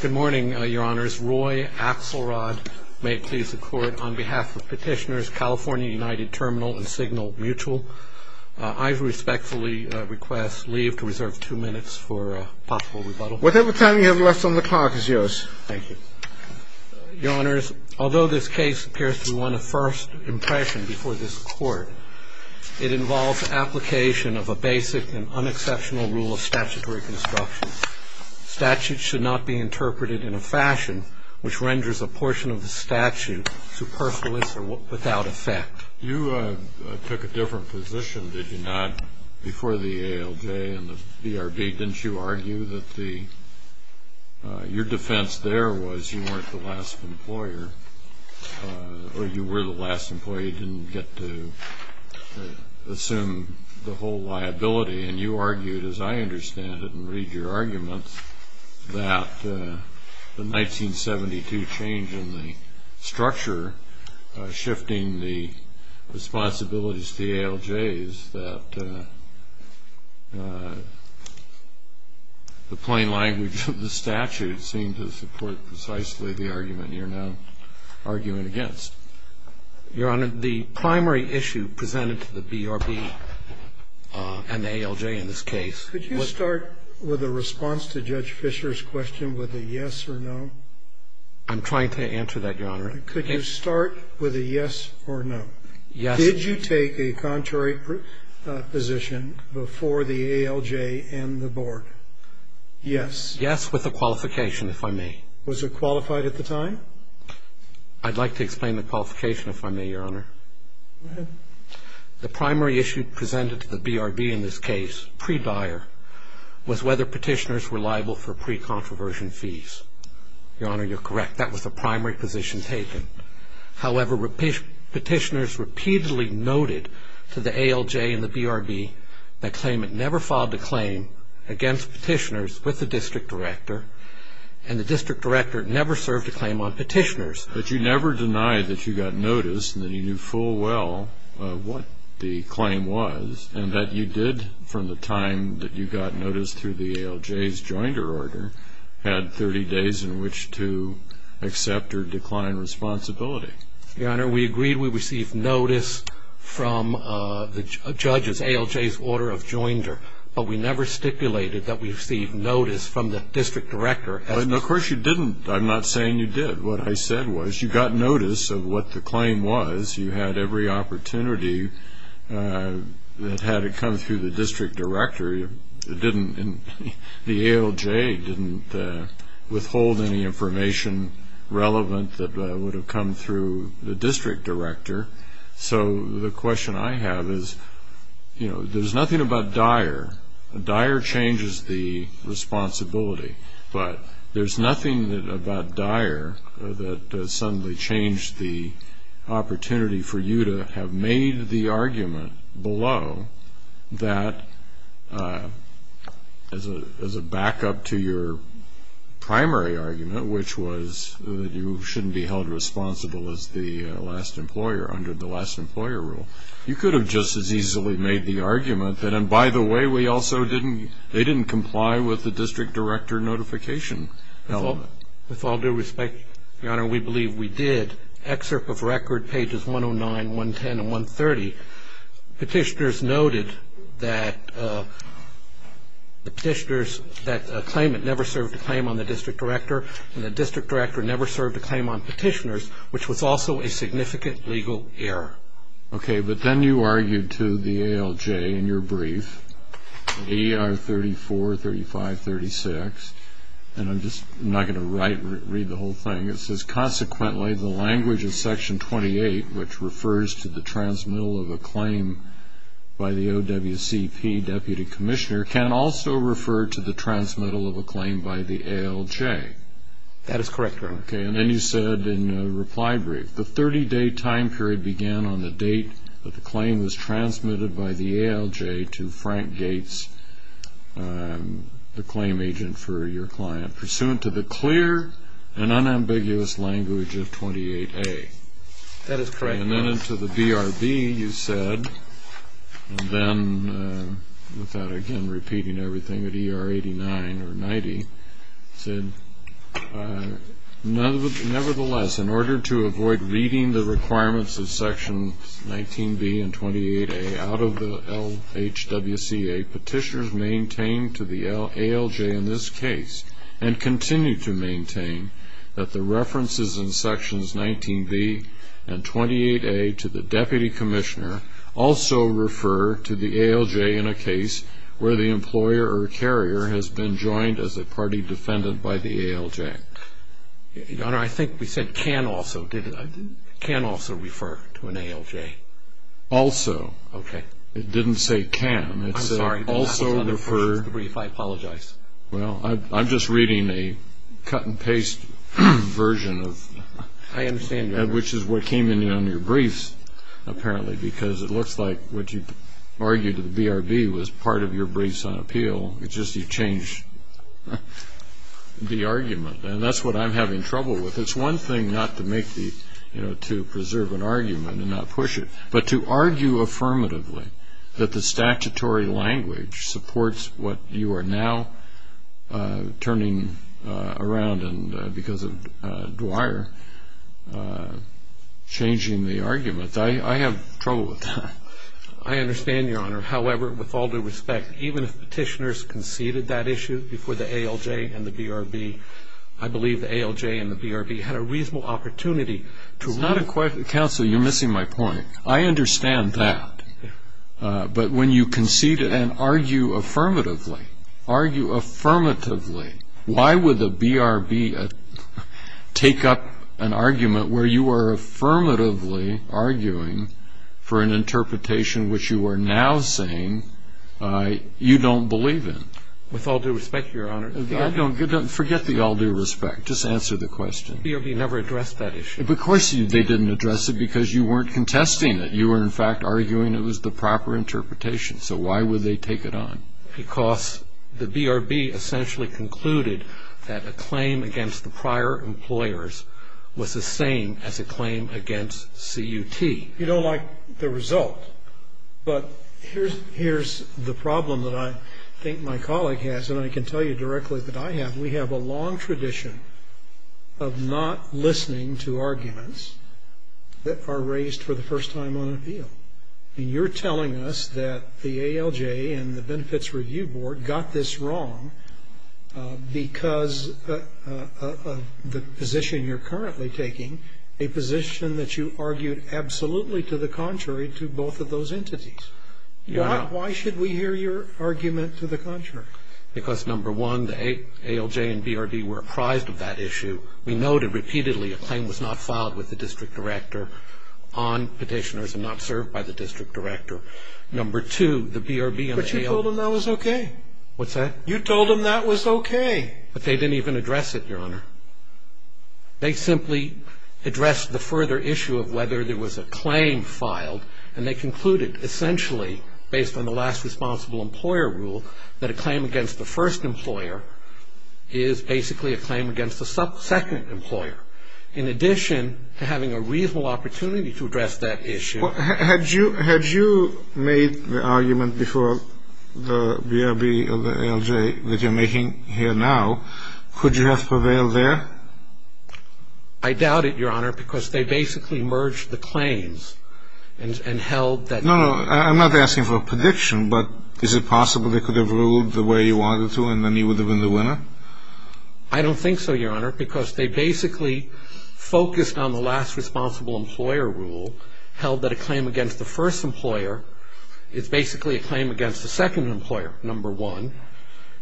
Good morning, Your Honors. Roy Axelrod may please the Court on behalf of Petitioners California United Terminal and Signal Mutual. I respectfully request leave to reserve two minutes for a possible rebuttal. Whatever time you have left on the clock is yours. Thank you. Your Honors, although this case appears to be one of first impression before this Court, it involves application of a basic and unexceptional rule of statutory construction. Statutes should not be interpreted in a fashion which renders a portion of a statute superfluous or without effect. You took a different position, did you not, before the ALJ and the BRB? Didn't you argue that your defense there was you weren't the last employer, or you were the last employer, you didn't get to assume the whole liability? And you argued, as I understand it and read your arguments, that the 1972 change in the structure shifting the responsibilities to the ALJs, that the plain language of the statute seemed to support precisely the argument you're now arguing against. Your Honor, the primary issue presented to the BRB and the ALJ in this case was Could you start with a response to Judge Fisher's question with a yes or no? I'm trying to answer that, Your Honor. Could you start with a yes or no? Yes. Did you take a contrary position before the ALJ and the Board? Yes. Yes, with a qualification, if I may. Was it qualified at the time? I'd like to explain the qualification, if I may, Your Honor. Go ahead. The primary issue presented to the BRB in this case, pre-Dyer, was whether petitioners were liable for pre-controversial fees. Your Honor, you're correct. That was the primary position taken. However, petitioners repeatedly noted to the ALJ and the BRB that claimant never filed a claim against petitioners with the district director, and the district director never served a claim on petitioners. But you never denied that you got notice and that you knew full well what the claim was and that you did, from the time that you got notice through the ALJ's joinder order, had 30 days in which to accept or decline responsibility. Your Honor, we agreed we received notice from the judges, ALJ's order of joinder, but we never stipulated that we received notice from the district director. Of course you didn't. I'm not saying you did. What I said was you got notice of what the claim was. You had every opportunity that had to come through the district director. The ALJ didn't withhold any information relevant that would have come through the district director. So the question I have is, you know, there's nothing about Dyer. Dyer changes the responsibility, but there's nothing about Dyer that suddenly changed the opportunity for you to have made the argument below that as a backup to your primary argument, which was that you shouldn't be held responsible as the last employer under the last employer rule, you could have just as easily made the argument that, and by the way, they didn't comply with the district director notification element. With all due respect, Your Honor, we believe we did. Excerpt of record, pages 109, 110, and 130, Petitioners noted that the claimant never served a claim on the district director, and the district director never served a claim on petitioners, which was also a significant legal error. Okay, but then you argued to the ALJ in your brief, AR 34, 35, 36, and I'm just not going to read the whole thing. It says, consequently, the language of section 28, which refers to the transmittal of a claim by the OWCP deputy commissioner, can also refer to the transmittal of a claim by the ALJ. That is correct, Your Honor. Okay, and then you said in a reply brief, the 30-day time period began on the date that the claim was transmitted by the ALJ to Frank Gates, the claim agent for your client, pursuant to the clear and unambiguous language of 28A. That is correct, Your Honor. And then to the BRB, you said, and then without, again, repeating everything, at ER 89 or 90, said, nevertheless, in order to avoid reading the requirements of sections 19B and 28A out of the LHWCA, petitioners maintain to the ALJ in this case, and continue to maintain that the references in sections 19B and 28A to the deputy commissioner also refer to the ALJ in a case where the employer or carrier has been joined as a party defendant by the ALJ. Your Honor, I think we said can also. Did I? Can also refer to an ALJ. Also. Okay. It didn't say can. I'm sorry. It said also refer. I apologize. Well, I'm just reading a cut-and-paste version of... I understand, Your Honor. Which is what came in on your briefs, apparently, because it looks like what you argued at the BRB was part of your briefs on appeal. It's just you changed the argument, and that's what I'm having trouble with. It's one thing not to preserve an argument and not push it, but to argue affirmatively that the statutory language supports what you are now turning around because of Dwyer changing the argument. I understand, Your Honor. However, with all due respect, even if petitioners conceded that issue before the ALJ and the BRB, I believe the ALJ and the BRB had a reasonable opportunity to... It's not a question... Counsel, you're missing my point. I understand that. But when you concede and argue affirmatively, argue affirmatively, why would the BRB take up an argument where you are affirmatively arguing for an interpretation which you are now saying you don't believe in? With all due respect, Your Honor, I don't... Forget the all due respect. Just answer the question. The BRB never addressed that issue. Of course they didn't address it because you weren't contesting it. You were, in fact, arguing it was the proper interpretation. So why would they take it on? Because the BRB essentially concluded that a claim against the prior employers was the same as a claim against CUT. You don't like the result, but here's the problem that I think my colleague has, and I can tell you directly that I have. We have a long tradition of not listening to arguments that are raised for the first time on an appeal. And you're telling us that the ALJ and the Benefits Review Board got this wrong because of the position you're currently taking, a position that you argued absolutely to the contrary to both of those entities. Your Honor. Why should we hear your argument to the contrary? Because, number one, the ALJ and BRB were apprised of that issue. We noted repeatedly a claim was not filed with the district director on petitioners and not served by the district director. Number two, the BRB and the ALJ. But you told them that was okay. What's that? You told them that was okay. But they didn't even address it, Your Honor. They simply addressed the further issue of whether there was a claim filed, and they concluded essentially, based on the last responsible employer rule, that a claim against the first employer is basically a claim against the second employer, in addition to having a reasonable opportunity to address that issue. Had you made the argument before the BRB or the ALJ that you're making here now, could you have prevailed there? I doubt it, Your Honor, because they basically merged the claims and held that. No, no. I'm not asking for a prediction, but is it possible they could have ruled the way you wanted to and then you would have been the winner? I don't think so, Your Honor, because they basically focused on the last responsible employer rule, held that a claim against the first employer is basically a claim against the second employer, number one.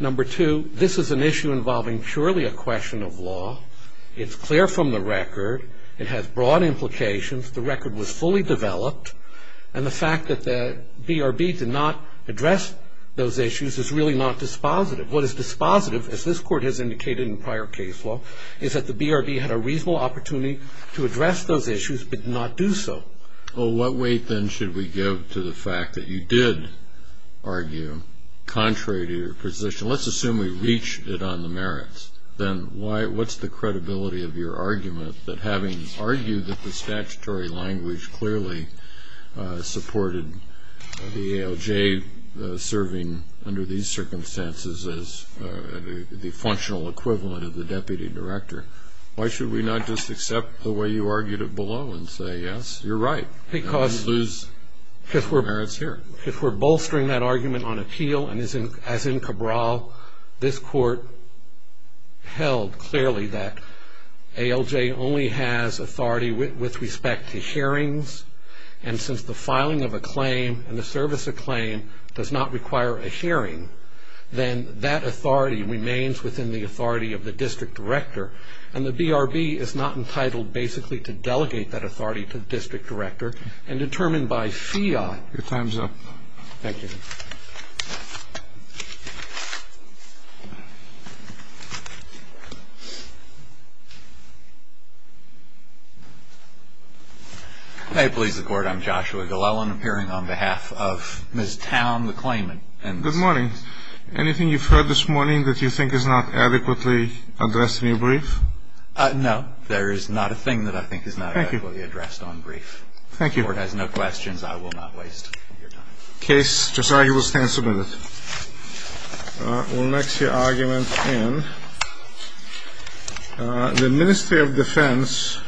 Number two, this is an issue involving purely a question of law. It's clear from the record. It has broad implications. The record was fully developed. And the fact that the BRB did not address those issues is really not dispositive. What is dispositive, as this Court has indicated in prior case law, is that the BRB had a reasonable opportunity to address those issues but did not do so. Well, what weight then should we give to the fact that you did argue contrary to your position? Let's assume we reached it on the merits. Then what's the credibility of your argument that having argued that the statutory language clearly supported the ALJ serving under these circumstances as the functional equivalent of the deputy director, why should we not just accept the way you argued it below and say, yes, you're right, and lose merits here? If we're bolstering that argument on appeal, as in Cabral, this Court held clearly that ALJ only has authority with respect to hearings. And since the filing of a claim and the service of a claim does not require a hearing, then that authority remains within the authority of the district director. And the BRB is not entitled basically to delegate that authority to the district director. And I think that's a good point. to give that authority to the district director and determine by fiat. Your time's up. Thank you. May it please the Court, I'm Joshua Gullel and I'm appearing on behalf of Ms. Town, the claimant. Good morning. Anything you've heard this morning that you think is not adequately addressed in your brief? No. There is not a thing that I think is not adequately addressed on brief. Thank you. The Court has no questions. I will not waste your time. Case, Josiah, you will stand submitted. We'll mix your argument in. The Ministry of Defense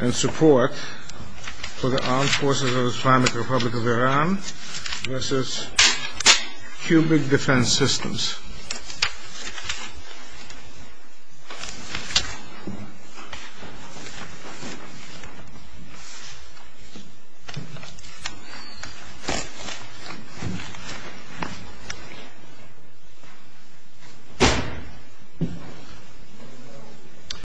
and Support for the Armed Forces of the Islamic Republic of Iran v. Cubic Defense Systems.